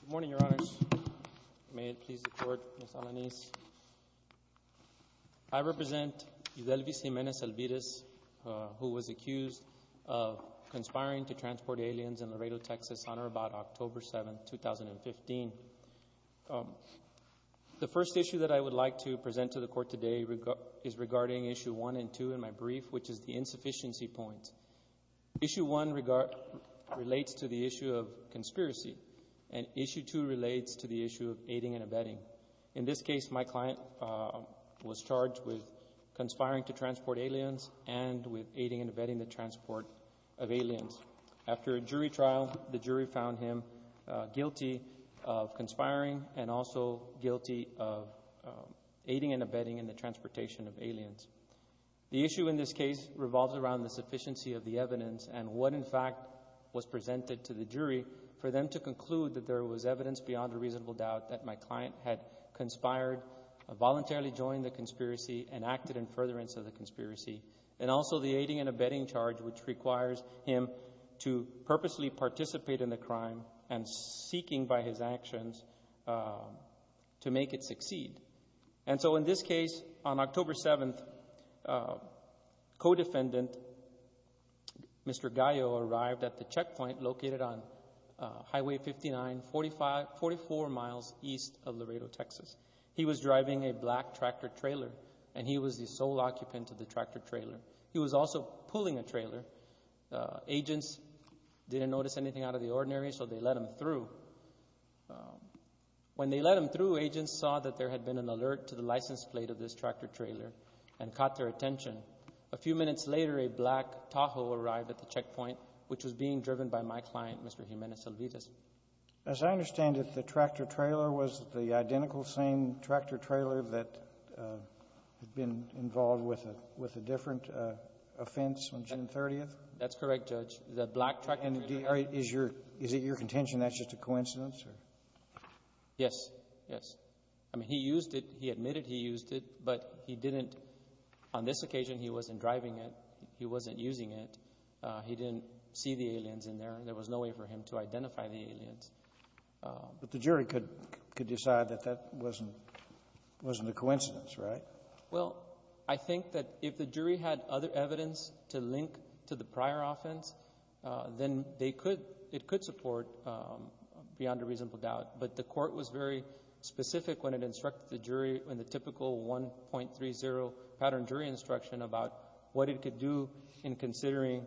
Good morning, Your Honors. May it please the Court, Ms. Alaniz. I represent Yudeluis Jimenez-Elvirez, who was accused of conspiring to transport aliens in Laredo, Texas, on or about October 7, 2015. The first issue that I would like to present to the Court today is regarding Issue 1 and 2 in my brief, which is the insufficiency point. Issue 1 relates to the issue of conspiracy, and Issue 2 relates to the issue of aiding and abetting. In this case, my client was charged with conspiring to transport aliens and with aiding and abetting the transport of aliens. After a jury trial, the jury found him guilty of conspiring and also guilty of aiding and abetting in the transportation of aliens. The issue in this case revolves around the sufficiency of the evidence and what, in fact, was for them to conclude that there was evidence beyond a reasonable doubt that my client had conspired, voluntarily joined the conspiracy, and acted in furtherance of the conspiracy, and also the aiding and abetting charge, which requires him to purposely participate in the crime and seeking by his actions to make it succeed. And so, in this case, on Highway 59, 44 miles east of Laredo, Texas, he was driving a black tractor-trailer, and he was the sole occupant of the tractor-trailer. He was also pulling a trailer. Agents didn't notice anything out of the ordinary, so they let him through. When they let him through, agents saw that there had been an alert to the license plate of this tractor-trailer and caught their attention. A few minutes later, a black Tahoe arrived at the checkpoint, which was being driven by my client, Mr. Jimenez-Selvitas. As I understand it, the tractor-trailer was the identical same tractor-trailer that had been involved with a different offense on June 30th? That's correct, Judge. The black tractor-trailer. And is your — is it your contention that's just a coincidence, or…? Yes. Yes. I mean, he used it. He admitted he used it, but he didn't — on this occasion, he wasn't driving it. He wasn't using it. He didn't see the aliens in there. There was no way for him to identify the aliens. But the jury could — could decide that that wasn't — wasn't a coincidence, right? Well, I think that if the jury had other evidence to link to the prior offense, then they could — it could support beyond a reasonable doubt. But the Court was very specific when it instructed the jury in the typical 1.30 pattern jury instruction about what it could do in considering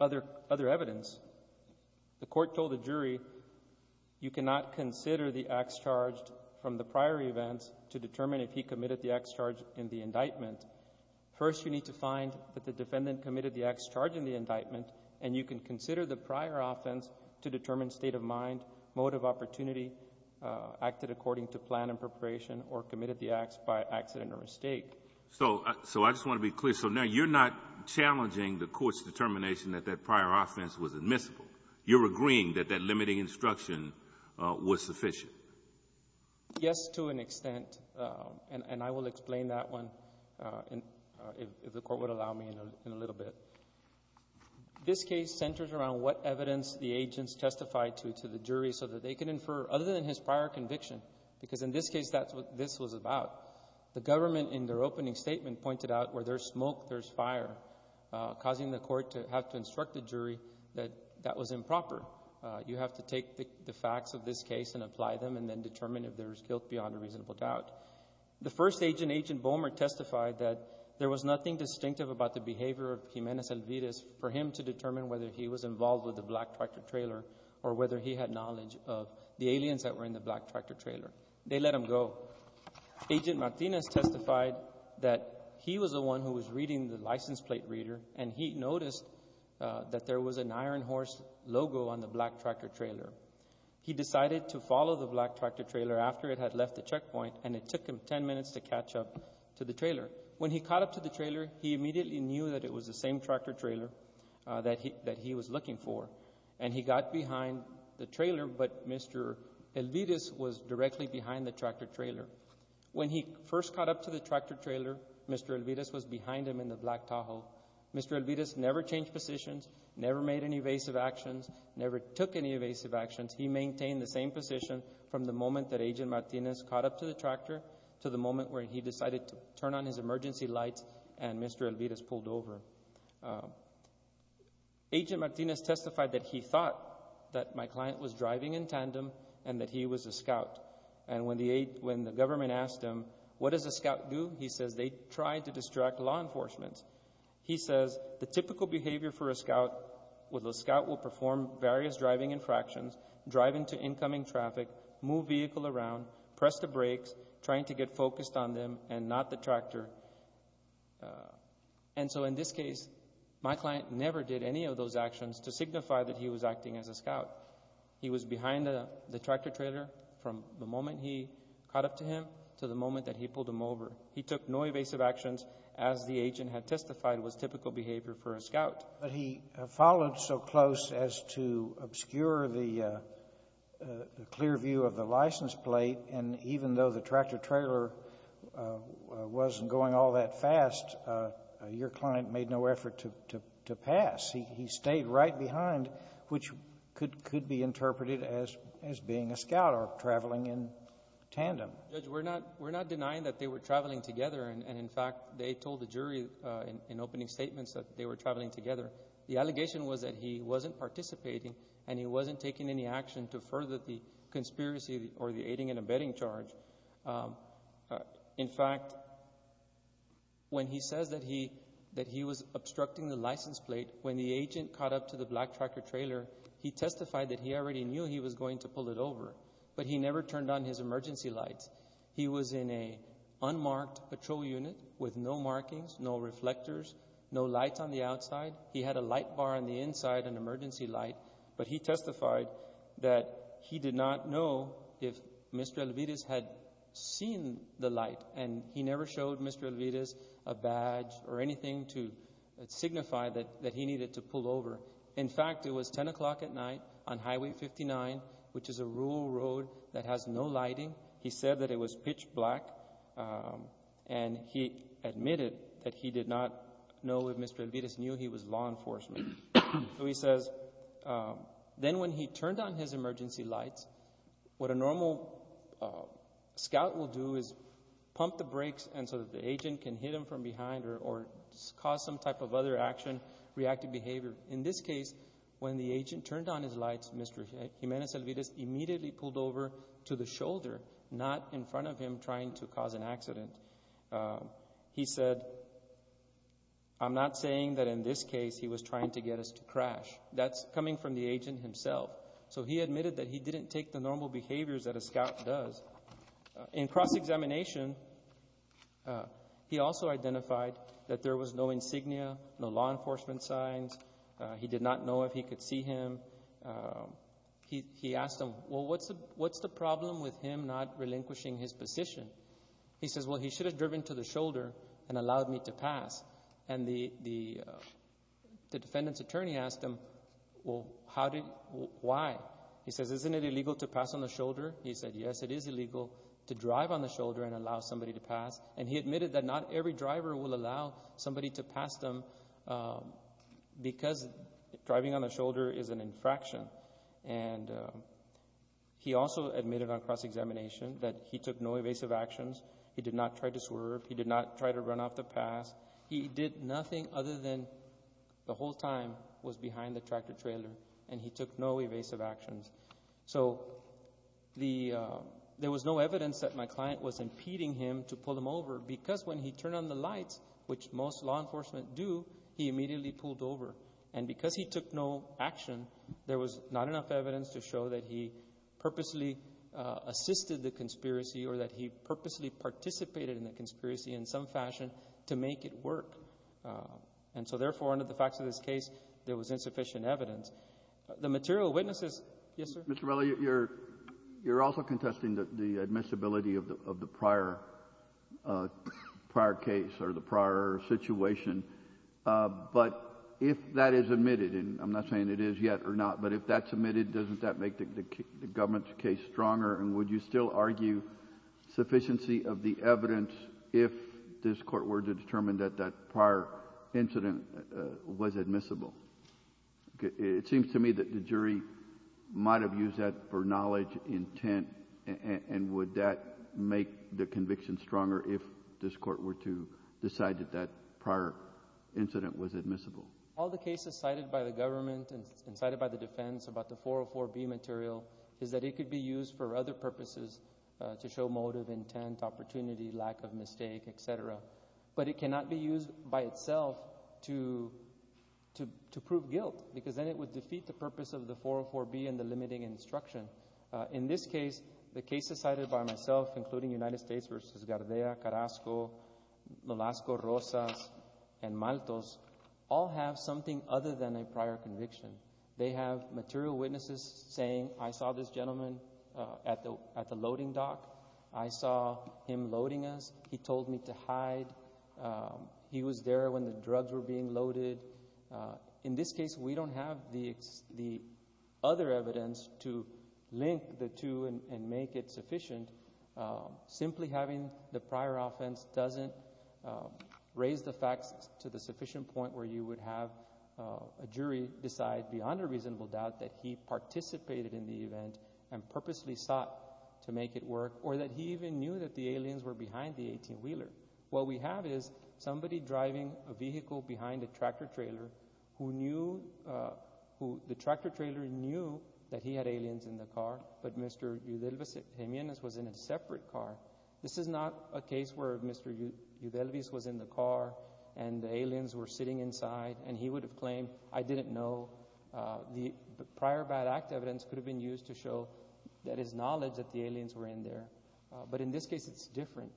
other — other evidence. The Court told the jury, you cannot consider the acts charged from the prior events to determine if he committed the acts charged in the indictment. First, you need to find that the defendant committed the acts charged in the indictment, and you can consider the prior offense to determine state of mind, mode of opportunity, acted according to plan and preparation, or committed the acts by accident or mistake. So — so I just want to be clear. So now you're not challenging the Court's determination that that prior offense was admissible. You're agreeing that that limiting instruction was sufficient. Yes, to an extent. And — and I will explain that one in — if the Court would allow me in a — in a little bit. This case centers around what evidence the agents testified to to the jury so that they could infer, other than his prior conviction, because in this case, that's what this was about. The government in their opening statement pointed out where there's smoke, there's fire, causing the Court to have to instruct the jury that that was improper. You have to take the facts of this case and apply them and then determine if there's guilt beyond a reasonable doubt. The first agent, Agent Bomer, testified that there was nothing distinctive about the behavior of Jimenez-Elvira for him to determine whether he was involved with the black tractor trailer or whether he had knowledge of the aliens that were in the black tractor trailer. They let him go. Agent Martinez testified that he was the one who was reading the license plate reader, and he noticed that there was an Iron Horse logo on the black tractor trailer. He decided to follow the black tractor trailer after it had left the checkpoint, and it took him 10 minutes to catch up to the trailer. When he caught up to the trailer, he immediately knew that it was the same tractor trailer that he — that he was looking for, and he got behind the trailer, but Mr. Elvira was directly behind the tractor trailer. When he first caught up to the tractor trailer, Mr. Elvira was behind him in the black Tahoe. Mr. Elvira never changed positions, never made any evasive actions, never took any evasive actions. He maintained the same position from the moment that Agent Martinez caught up to the tractor to the moment where he decided to turn on his emergency lights and Mr. Elvira was pulled over. Agent Martinez testified that he thought that my client was driving in tandem and that he was a scout, and when the government asked him, what does a scout do, he says they try to distract law enforcement. He says the typical behavior for a scout was a scout will perform various driving infractions, drive into incoming traffic, move vehicle around, press the brakes, trying to get focused on them and not the tractor. And so in this case, my client never did any of those actions to signify that he was acting as a scout. He was behind the tractor trailer from the moment he caught up to him to the moment that he pulled him over. He took no evasive actions as the agent had testified was typical behavior for a scout. He followed so close as to obscure the clear view of the license plate, and even though the tractor trailer wasn't going all that fast, your client made no effort to pass. He stayed right behind, which could be interpreted as being a scout or traveling in tandem. Judge, we're not denying that they were traveling together. And, in fact, they told the jury in opening statements that they were traveling together. The allegation was that he wasn't participating and he wasn't taking any action to further the conspiracy or the aiding and abetting charge. In fact, when he says that he was obstructing the license plate when the agent caught up to the black tractor trailer, he testified that he already knew he was going to pull it over, but he never turned on his emergency lights. He was in an unmarked patrol unit with no markings, no reflectors, no lights on the outside. He had a light bar on the inside, an emergency light, but he testified that he did not know if Mr. Elviris had seen the light, and he never showed Mr. Elviris a badge or anything to signify that he needed to pull over. In fact, it was 10 o'clock at night on Highway 59, which is a rural road that has no lighting. He said that it was pitch black, and he admitted that he did not know if Mr. Elviris knew he was law enforcement. So he says, then when he turned on his emergency lights, what a normal scout will do is pump the brakes so that the agent can hit him from behind or cause some type of other action, reactive behavior. In this case, when the agent turned on his lights, Mr. Jimenez Elviris immediately pulled over to the shoulder, not in front of him trying to cause an accident. He said, I'm not saying that in this case he was trying to get us to crash. That's coming from the agent himself. So he admitted that he didn't take the normal behaviors that a scout does. In cross-examination, he also identified that there was no insignia, no law enforcement signs. He did not know if he could see him. He asked him, well, what's the problem with him not relinquishing his position? He says, well, he should have driven to the shoulder and allowed me to pass. And the defendant's attorney asked him, well, how did, why? He says, isn't it illegal to pass on the shoulder? He said, yes, it is illegal to drive on the shoulder and allow somebody to pass. And he admitted that not every driver will allow somebody to pass them because driving on the shoulder is an infraction. And he also admitted on cross-examination that he took no evasive actions. He did not try to swerve. He did not try to run off the pass. He did nothing other than the whole time was behind the tractor-trailer, and he took no evasive actions. So there was no evidence that my client was impeding him to pull him over because when he turned on the lights, which most law enforcement do, he immediately pulled over. And because he took no action, there was not enough evidence to show that he purposely assisted the conspiracy or that he purposely participated in the conspiracy in some fashion to make it work. And so, therefore, under the facts of this case, there was insufficient evidence. The material witnesses — yes, sir? Mr. Morello, you're also contesting the admissibility of the prior case or the prior situation. But if that is admitted, and I'm not saying it is yet or not, but if that's admitted, doesn't that make the government's case stronger? And would you still argue sufficiency of the evidence if this Court were to determine that that prior incident was admissible? It seems to me that the jury might have used that for knowledge, intent, and would that make the conviction stronger if this Court were to decide that that prior incident was admissible. All the cases cited by the government and cited by the defense about the 404B material is that it could be used for other purposes to show motive, intent, opportunity, lack of mistake, et cetera. But it cannot be used by itself to prove guilt because then it would be used for other purposes. In this case, the cases cited by myself, including United States v. Gardea, Carrasco, Molasco, Rosas, and Maltos, all have something other than a prior conviction. They have material witnesses saying, I saw this gentleman at the loading dock. I saw him loading us. He told me to hide. He was there when the drugs were being loaded. In this case, we don't have the other evidence to link the two and make it sufficient. Simply having the prior offense doesn't raise the facts to the sufficient point where you would have a jury decide beyond a reasonable doubt that he participated in the event and purposely sought to make it work or that he even knew that the aliens were behind the 18-wheeler. What we have is somebody driving a vehicle behind a tractor-trailer. The tractor-trailer knew that he had aliens in the car, but Mr. Eudelvis Jimenez was in a separate car. This is not a case where Mr. Eudelvis was in the car and the aliens were sitting inside and he would have claimed, I didn't know. The prior bad act evidence could have been used to show that his knowledge that the aliens were in there, but in this case it's different.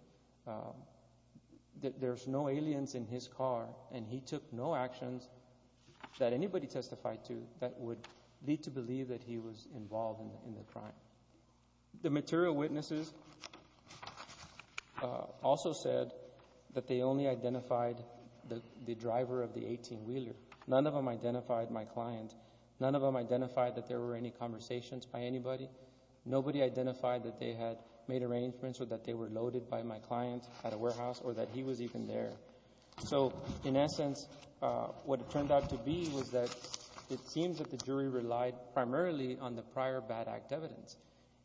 There's no aliens in his car and he took no actions that anybody testified to that would lead to believe that he was involved in the crime. The material witnesses also said that they only identified the driver of the 18-wheeler. None of them identified my client. None of them identified that there were any conversations by anybody. Nobody identified that they had made arrangements or that they were loaded by my client at a warehouse or that he was even there. So in essence, what it turned out to be was that it seems that the jury relied primarily on the prior bad act evidence,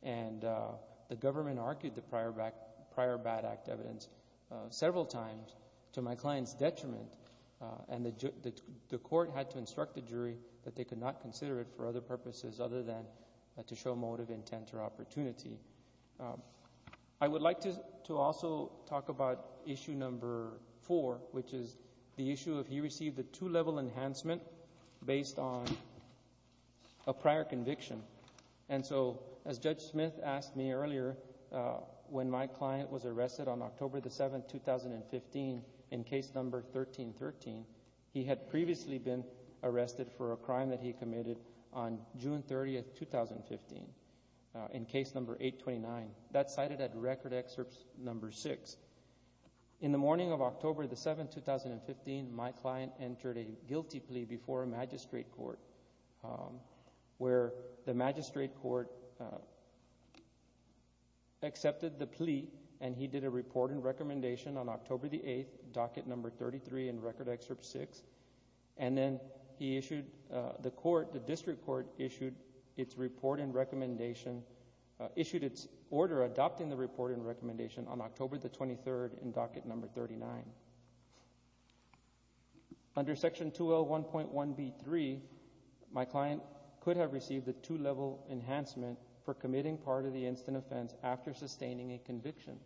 and the government argued the prior bad act evidence several times to my client's detriment, and the court had to instruct the jury that they could not to show motive, intent, or opportunity. I would like to also talk about issue number four, which is the issue of he received a two-level enhancement based on a prior conviction. And so, as Judge Smith asked me earlier, when my client was arrested on October 7, 2015, in case number 1313, he had previously been arrested on October 7, 2015, in case number 829. That's cited at Record Excerpt number 6. In the morning of October 7, 2015, my client entered a guilty plea before a magistrate court, where the magistrate court accepted the plea, and he did a report and recommendation on October 8, docket number 33 in Record Excerpt 6, and then he issued... the court, the report and recommendation... issued its order adopting the report and recommendation on October the 23rd in docket number 39. Under section 2L1.1b3, my client could have received a two-level enhancement for committing part of the instant offense after sustaining a conviction,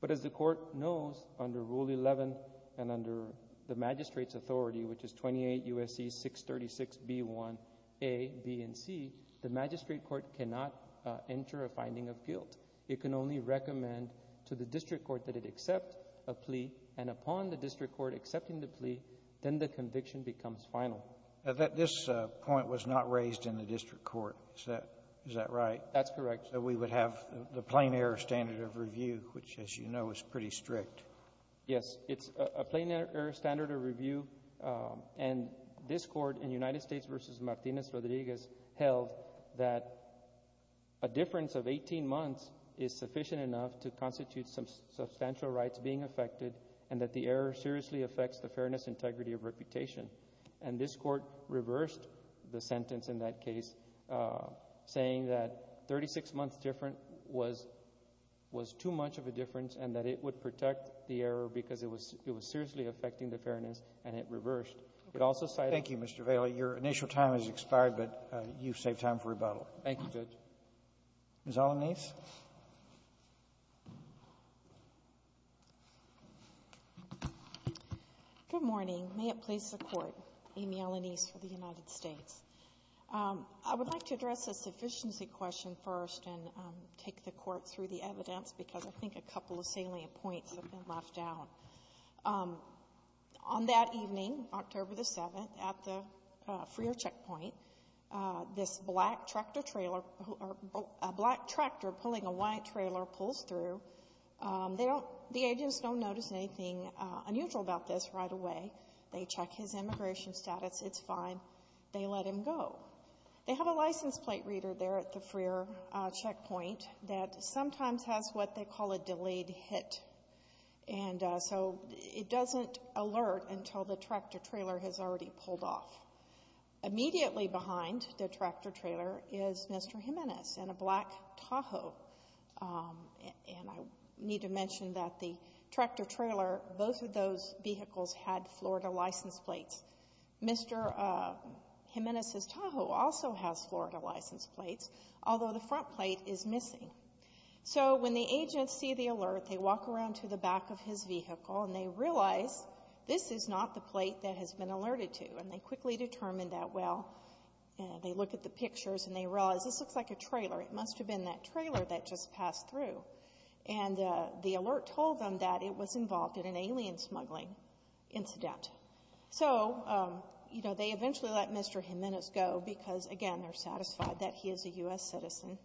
but as the court knows, under Rule 11 and under the magistrate's authority, which is 28 U.S.C. 636b1a, b, and c, the magistrate court cannot enter a finding of guilt. It can only recommend to the district court that it accept a plea, and upon the district court accepting the plea, then the conviction becomes final. Now, this point was not raised in the district court. Is that right? That's correct. So we would have the plain error standard of review, which, as you know, is pretty strict. Yes. It's a plain error standard of review, and this Court in United States v. Martinez-Rodriguez held that a difference of 18 months is sufficient enough to constitute some substantial rights being affected and that the error seriously affects the fairness and integrity of reputation. And this Court reversed the sentence in that case, saying that 36 months different was too much of a difference and that it would protect the error because it was seriously affecting the fairness, and it reversed. It also cited... You've saved time for rebuttal. Thank you, Judge. Ms. Alanis. Good morning. May it please the Court, Amy Alanis for the United States. I would like to address a sufficiency question first and take the Court through the evidence because I think a couple of salient points have been left out. On that evening, October the 7th, at the Freer checkpoint, this black tractor pulling a white trailer pulls through. The agents don't notice anything unusual about this right away. They check his immigration status. It's fine. They let him go. They have a license plate reader there at the Freer checkpoint that sometimes has what they call a delayed hit. And so it doesn't alert until the tractor-trailer has already pulled off. Immediately behind the tractor-trailer is Mr. Jimenez in a black Tahoe. And I need to mention that the tractor-trailer, both of those vehicles had Florida license plates. Mr. Jimenez's Tahoe also has Florida license plates, although the front plate is missing. So when the agents see the alert, they walk around to the back of his vehicle and they realize this is not the plate that has been alerted to. And they quickly determine that, well, they look at the pictures and they realize this looks like a trailer. It must have been that trailer that just passed through. And the alert told them that it was involved in an alien smuggling incident. So, you know, they eventually let Mr. Jimenez go because, again, they're satisfied that he is a U.S. citizen.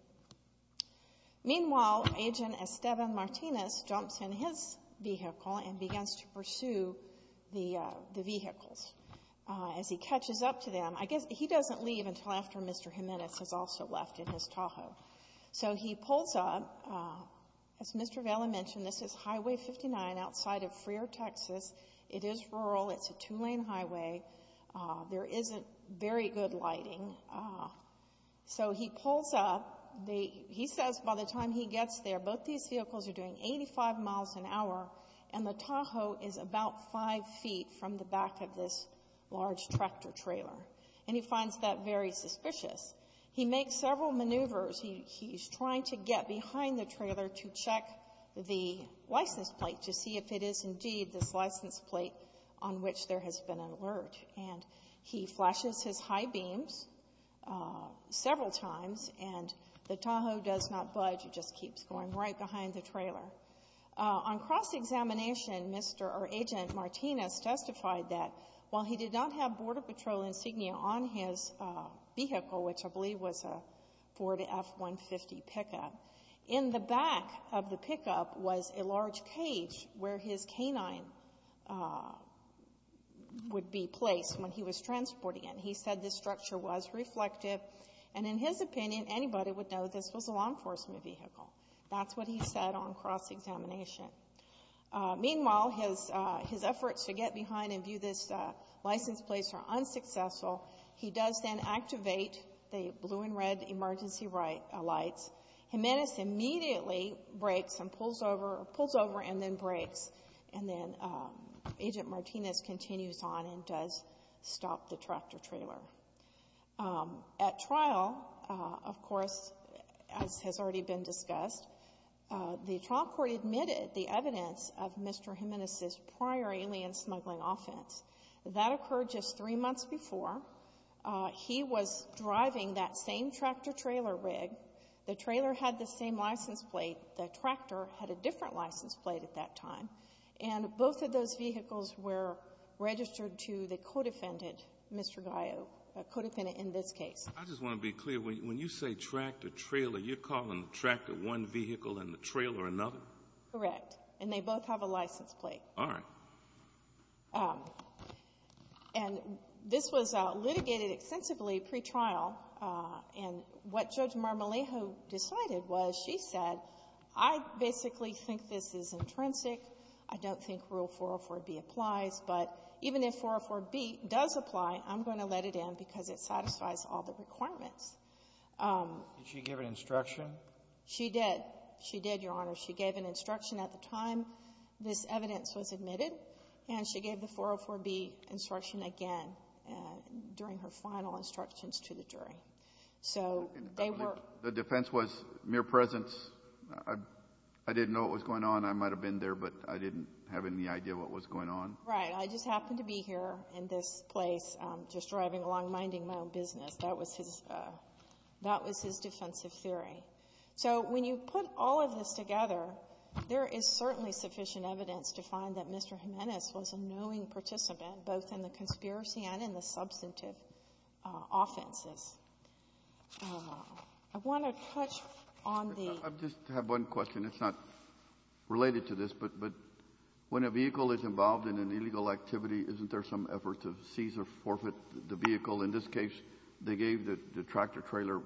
Meanwhile, Agent Esteban Martinez jumps in his vehicle and begins to pursue the vehicles. As he catches up to them, I guess he doesn't leave until after Mr. Jimenez has also left in his Tahoe. So he pulls up. As Mr. Vaila mentioned, this is Highway 59 outside of Freer, Texas. It is rural. It's a two-lane highway. There isn't very good lighting. So he pulls up. He says by the time he gets there, both these vehicles are doing 85 miles an hour, and the Tahoe is about five feet from the back of this large tractor trailer. And he finds that very suspicious. He makes several maneuvers. He's trying to get behind the trailer to check the license plate to see if it is indeed this license plate on which there has been an alert. And he flashes his high beams several times, and the Tahoe does not budge. It just keeps going right behind the trailer. On cross-examination, Agent Martinez testified that while he did not have Border Patrol insignia on his vehicle, which I believe was a Ford F-150 pickup, in the back of the pickup was a large cage where his canine would be placed when he was transporting it. He said this structure was reflective. And in his opinion, anybody would know this was a law enforcement vehicle. That's what he said on cross-examination. Meanwhile, his efforts to get behind and view this license plate are unsuccessful. He does then activate the blue and red emergency lights. Jimenez immediately brakes and pulls over and then brakes. And then Agent Martinez continues on and does stop the tractor trailer. At trial, of course, as has already been discussed, the trial court admitted the evidence of Mr. Jimenez's prior alien-smuggling offense. That occurred just three months before. He was driving that same tractor-trailer rig. The trailer had the same license plate. The tractor had a different license plate at that time. And both of those vehicles were registered to the co-defendant, Mr. Gallo, the co-defendant in this case. I just want to be clear. When you say tractor-trailer, you're calling the tractor one vehicle and the trailer another? Correct. And they both have a license plate. All right. And this was litigated extensively pre-trial. And what Judge Marmolejo decided was she said, I basically think this is intrinsic. I don't think Rule 404B applies. But even if 404B does apply, I'm going to let it in because it satisfies all the requirements. Did she give an instruction? She did. She did, Your Honor. She gave an instruction at the time this evidence was admitted. And she gave the 404B instruction again during her final instructions to the jury. So they were ---- The defense was mere presence. I didn't know what was going on. I might have been there, but I didn't have any idea what was going on. Right. I just happened to be here in this place just driving along, minding my own business. That was his defensive theory. So when you put all of this together, there is certainly sufficient evidence to find that Mr. Jimenez was a knowing participant, both in the conspiracy and in the substantive offenses. I want to touch on the ---- I just have one question. It's not related to this, but when a vehicle is involved in an illegal activity, isn't there some effort to seize or forfeit the vehicle? In this case, they gave the tractor-trailer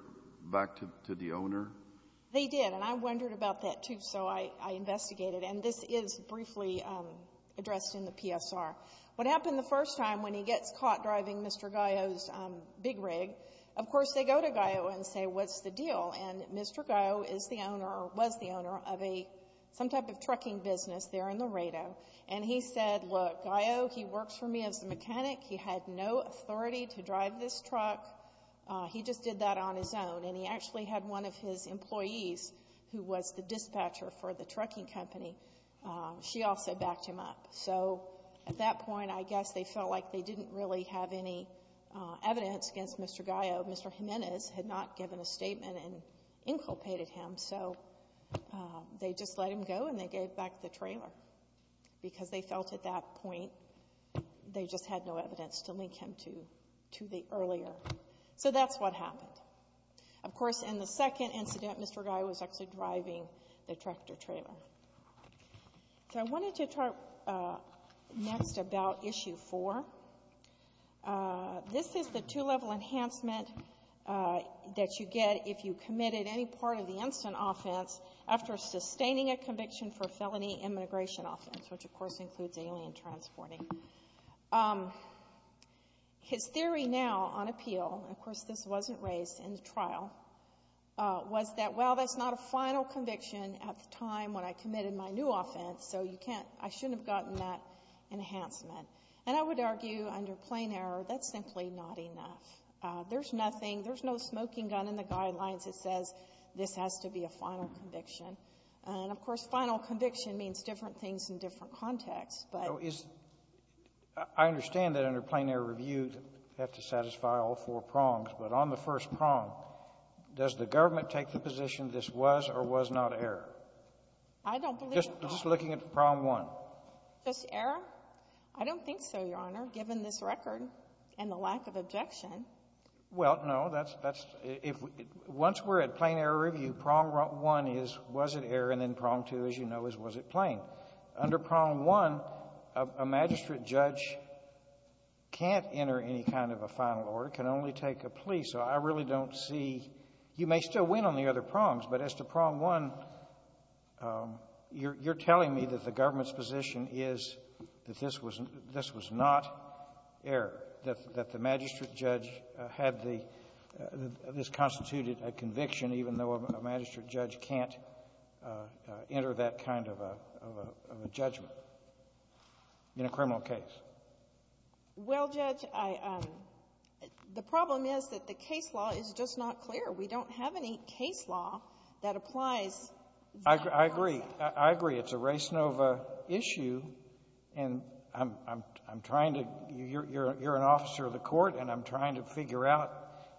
back to the owner? They did. And I wondered about that, too, so I investigated. And this is briefly addressed in the PSR. What happened the first time when he gets caught driving Mr. Gallo's big rig, of course, they go to Gallo and say, what's the deal? And Mr. Gallo is the owner or was the owner of a ---- some type of trucking business there in the Rado. And he said, look, Gallo, he works for me as a mechanic. He had no authority to drive this truck. He just did that on his own. And he actually had one of his employees, who was the dispatcher for the trucking company, she also backed him up. So at that point, I guess they felt like they didn't really have any evidence against Mr. Gallo. Mr. Jimenez had not given a statement and inculpated him, so they just let him go and they gave back the trailer, because they felt at that point they just had no evidence to link him to the earlier. So that's what happened. Of course, in the second incident, Mr. Gallo was actually driving the tractor-trailer. So I wanted to talk next about Issue 4. This is the two-level enhancement that you get if you committed any part of the instant offense after sustaining a conviction for a felony immigration offense, which, of course, includes alien transporting. His theory now on appeal, of course, this wasn't raised in the trial, was that, well, that's not a final conviction at the time when I committed my new offense, so you can't, I shouldn't have gotten that enhancement. And I would argue, under plain error, that's simply not enough. There's nothing, there's no smoking gun in the guidelines that says this has to be a final conviction. And, of course, that's in a different context, but — Kennedy. I understand that under plain error review, you have to satisfy all four prongs, but on the first prong, does the government take the position this was or was not error? Kovner. I don't believe it, Your Honor. Kennedy. Just looking at prong one. Kovner. Just error? I don't think so, Your Honor, given this record and the lack of objection. Kennedy. Well, no, that's — once we're at plain error review, prong one is was it or was it not in plain? Under prong one, a magistrate judge can't enter any kind of a final order, can only take a plea. So I really don't see — you may still win on the other prongs, but as to prong one, you're telling me that the government's position is that this was — this was not error, that the magistrate judge had the — this constituted a conviction, even though a magistrate judge can't enter that kind of a — of a judgment in a criminal case. Kovner. Well, Judge, I — the problem is that the case law is just not clear. We don't have any case law that applies. Kennedy. I agree. I agree. It's a res nova issue, and I'm — I'm trying to — you're an officer of the court, and I'm trying to figure out,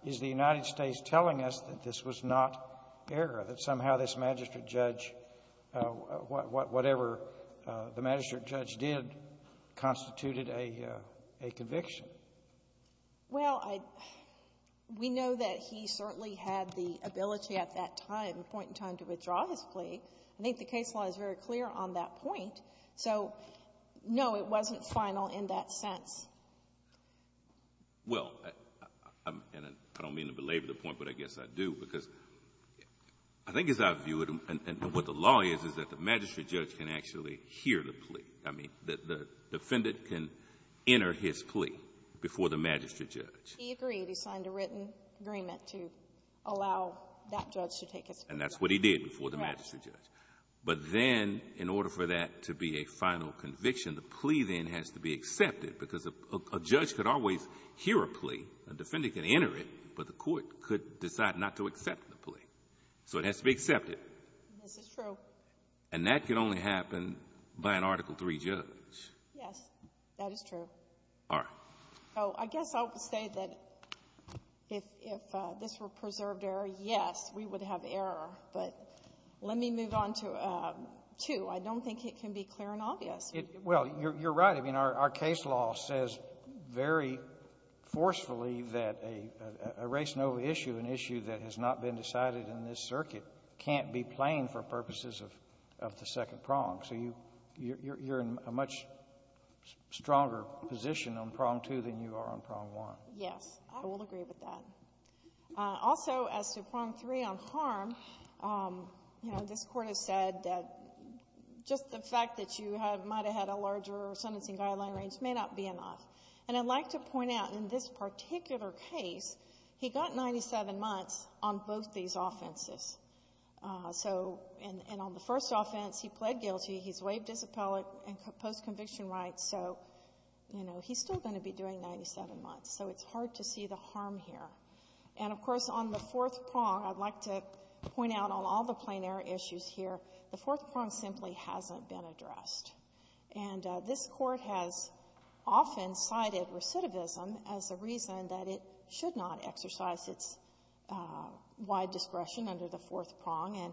is the United States telling us that this was not error, that somehow this magistrate judge, whatever the magistrate judge did, constituted a — a conviction? Kovner. Well, I — we know that he certainly had the ability at that time, the point in time, to withdraw his plea. I think the case law is very clear on that point. So, no, it wasn't final in that sense. Well, I'm — and I don't mean to belabor the point, but I guess I do, because I think as I view it, and what the law is, is that the magistrate judge can actually hear the plea. I mean, the defendant can enter his plea before the magistrate judge. He agreed. He signed a written agreement to allow that judge to take his plea. And that's what he did before the magistrate judge. But then, in order for that to be a final conviction, the plea then has to be accepted, because a judge could always hear a plea. A defendant can enter it, but the court could decide not to accept the plea. So it has to be accepted. This is true. And that can only happen by an Article III judge. Yes. That is true. All right. So I guess I will say that if this were preserved error, yes, we would have error. But let me move on to two. I don't think it can be clear and obvious. Well, you're right. I mean, our case law says very forcefully that a race nova issue, an issue that has not been decided in this circuit, can't be plain for purposes of the second prong. So you're in a much stronger position on prong two than you are on prong one. Yes. I will agree with that. Also, as to prong three on harm, you know, this Court has said that just the fact that you might have had a larger sentencing guideline range may not be enough. And I'd like to point out, in this particular case, he got 97 months on both these offenses. So and on the first offense, he pled guilty, he's waived his appellate and post-conviction rights, so, you know, he's still going to be doing 97 months, so it's hard to see the harm here. And, of course, on the fourth prong, I'd like to point out on all the plein air issues here, the fourth prong simply hasn't been addressed. And this Court has often cited recidivism as a reason that it should not exercise its wide discretion under the fourth prong. And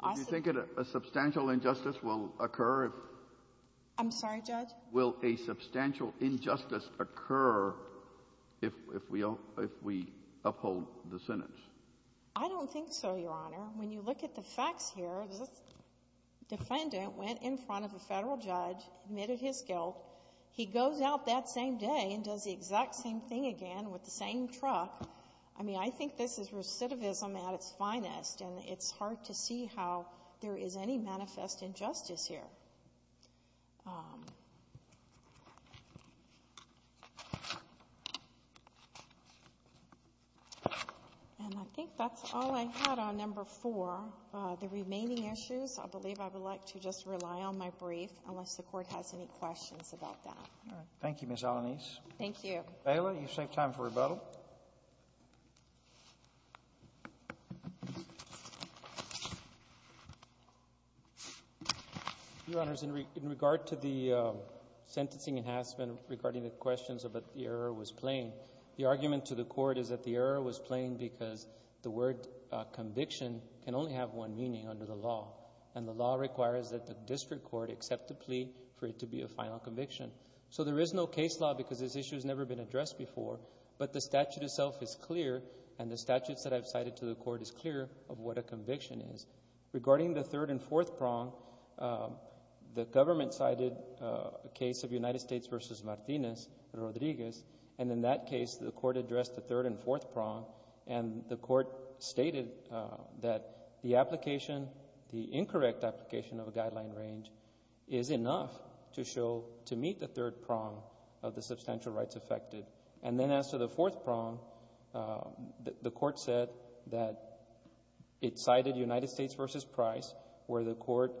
I think it's also the case that it should not be exercised under the fourth prong. I'm sorry, Judge? Will a substantial injustice occur if we uphold the sentence? I don't think so, Your Honor. When you look at the facts here, the defendant went in front of a Federal judge, admitted his guilt. He goes out that same day and does the exact same thing again with the same truck. I mean, I think this is recidivism at its finest, and it's hard to see how there is any manifest injustice here. And I think that's all I had on number four. The remaining issues, I believe I would like to just rely on my brief, unless the Court has any questions about that. All right. Thank you, Ms. Alanis. Thank you. Bailiff, you've saved time for rebuttal. Your Honors, in regard to the sentencing enhancement regarding the questions about the error was plain, the argument to the Court is that the error was plain because the word conviction can only have one meaning under the law, and the law requires that the district court accept the plea for it to be a final conviction. So there is no case law because this issue has never been addressed before, but the statute itself is clear, and the statutes that I've cited to the Court is clear of what a conviction is. Regarding the third and fourth prong, the government cited a case of United States v. Martinez, Rodriguez, and in that case, the Court addressed the third and fourth prong, and the Court stated that the application, the incorrect application of a guideline range is enough to show, to meet the third prong of the substantial rights affected. And then as to the fourth prong, the Court said that it cited United States v. Price, where the Court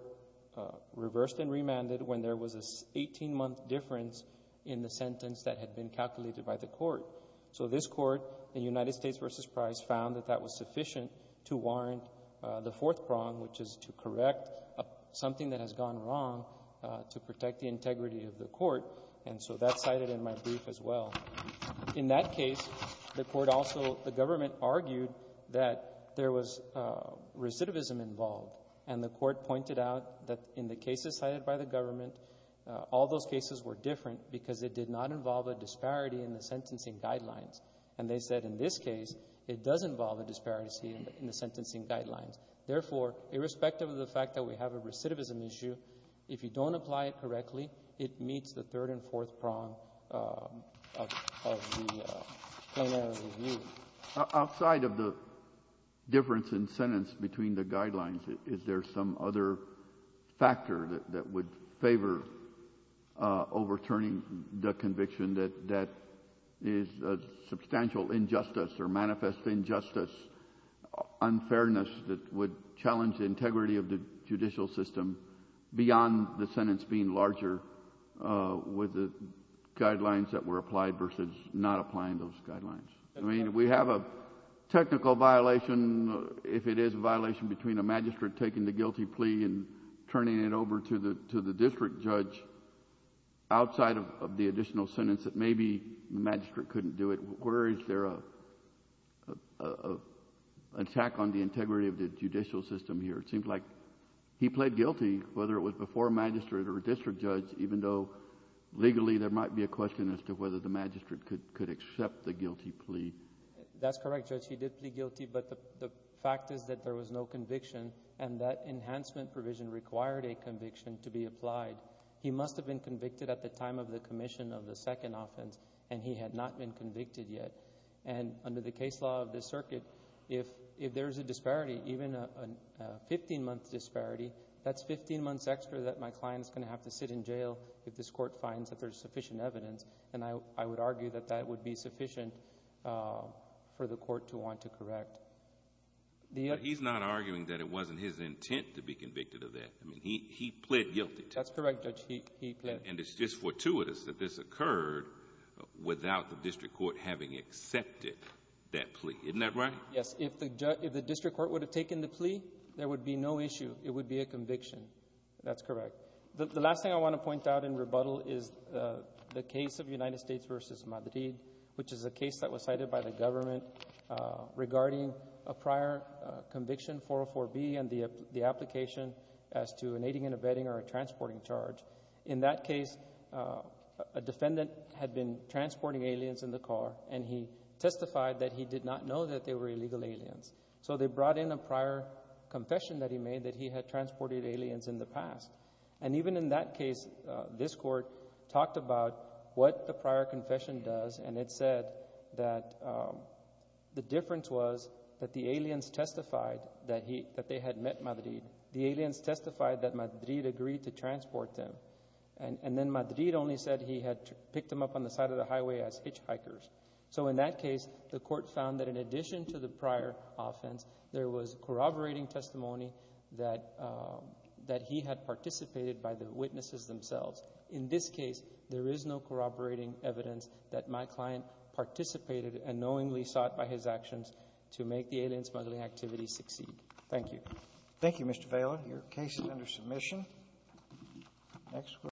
reversed and remanded when there was an 18-month difference in the sentence that had been calculated by the Court. So this Court, in United States v. Price, found that that was sufficient to warrant the fourth prong, which is to correct something that has gone wrong, to protect the integrity of the Court. And so that's cited in my brief as well. In that case, the Court also — the government argued that there was recidivism involved, and the Court pointed out that in the cases cited by the government, all those cases were different because it did not involve a disparity in the sentencing guidelines. And they said in this case, it does involve a disparity in the sentencing guidelines. Therefore, irrespective of the fact that we have a recidivism issue, if you don't apply it correctly, it meets the third and fourth prong of the plenary review. Outside of the difference in sentence between the guidelines, is there some other factor that would favor overturning the conviction that is a substantial injustice or manifest injustice, unfairness that would challenge the integrity of the judicial system beyond the sentence being larger with the guidelines that were applied versus not applying those guidelines? I mean, we have a technical violation, if it is a violation between a magistrate taking the guilty plea and turning it over to the district judge, outside of the additional sentence that maybe the magistrate couldn't do it. Where is there an attack on the integrity of the judicial system here? It seems like he pled guilty, whether it was before a magistrate or a district judge, even though legally there might be a question as to whether the magistrate could accept the guilty plea. That's correct, Judge. He did plead guilty, but the fact is that there was no conviction, and that enhancement provision required a conviction to be applied. He must have been convicted at the time of the commission of the second offense, and he had not been convicted yet. Under the case law of this circuit, if there is a disparity, even a 15-month disparity, that's 15 months extra that my client is going to have to sit in jail if this court finds that there is sufficient evidence, and I would argue that that would be sufficient for the court to want to correct. He's not arguing that it wasn't his intent to be convicted of that. He pled guilty. That's correct, Judge. He pled guilty. And it's just fortuitous that this occurred without the district court having accepted that plea. Isn't that right? Yes. If the district court would have taken the plea, there would be no issue. It would be a conviction. That's correct. The last thing I want to point out in rebuttal is the case of United States v. Madrid, which is a case that was cited by the government regarding a prior conviction, 404B, and the application as to an aiding and abetting or a transporting charge. In that case, a defendant had been transporting aliens in the car, and he testified that he did not know that they were illegal aliens, so they brought in a prior confession that he made that he had transported aliens in the past. And even in that case, this court talked about what the prior confession does, and it said that the difference was that the aliens testified that they had met Madrid. The aliens testified that Madrid agreed to transport them, and then Madrid only said he had picked them up on the side of the highway as hitchhikers. So in that case, the court found that in addition to the prior offense, there was corroborating testimony that he had participated by the witnesses themselves. In this case, there is no corroborating evidence that my client participated and knowingly sought by his actions to make the alien smuggling activity succeed. Thank you. Roberts. Thank you, Mr. Phelan. Your case is under submission.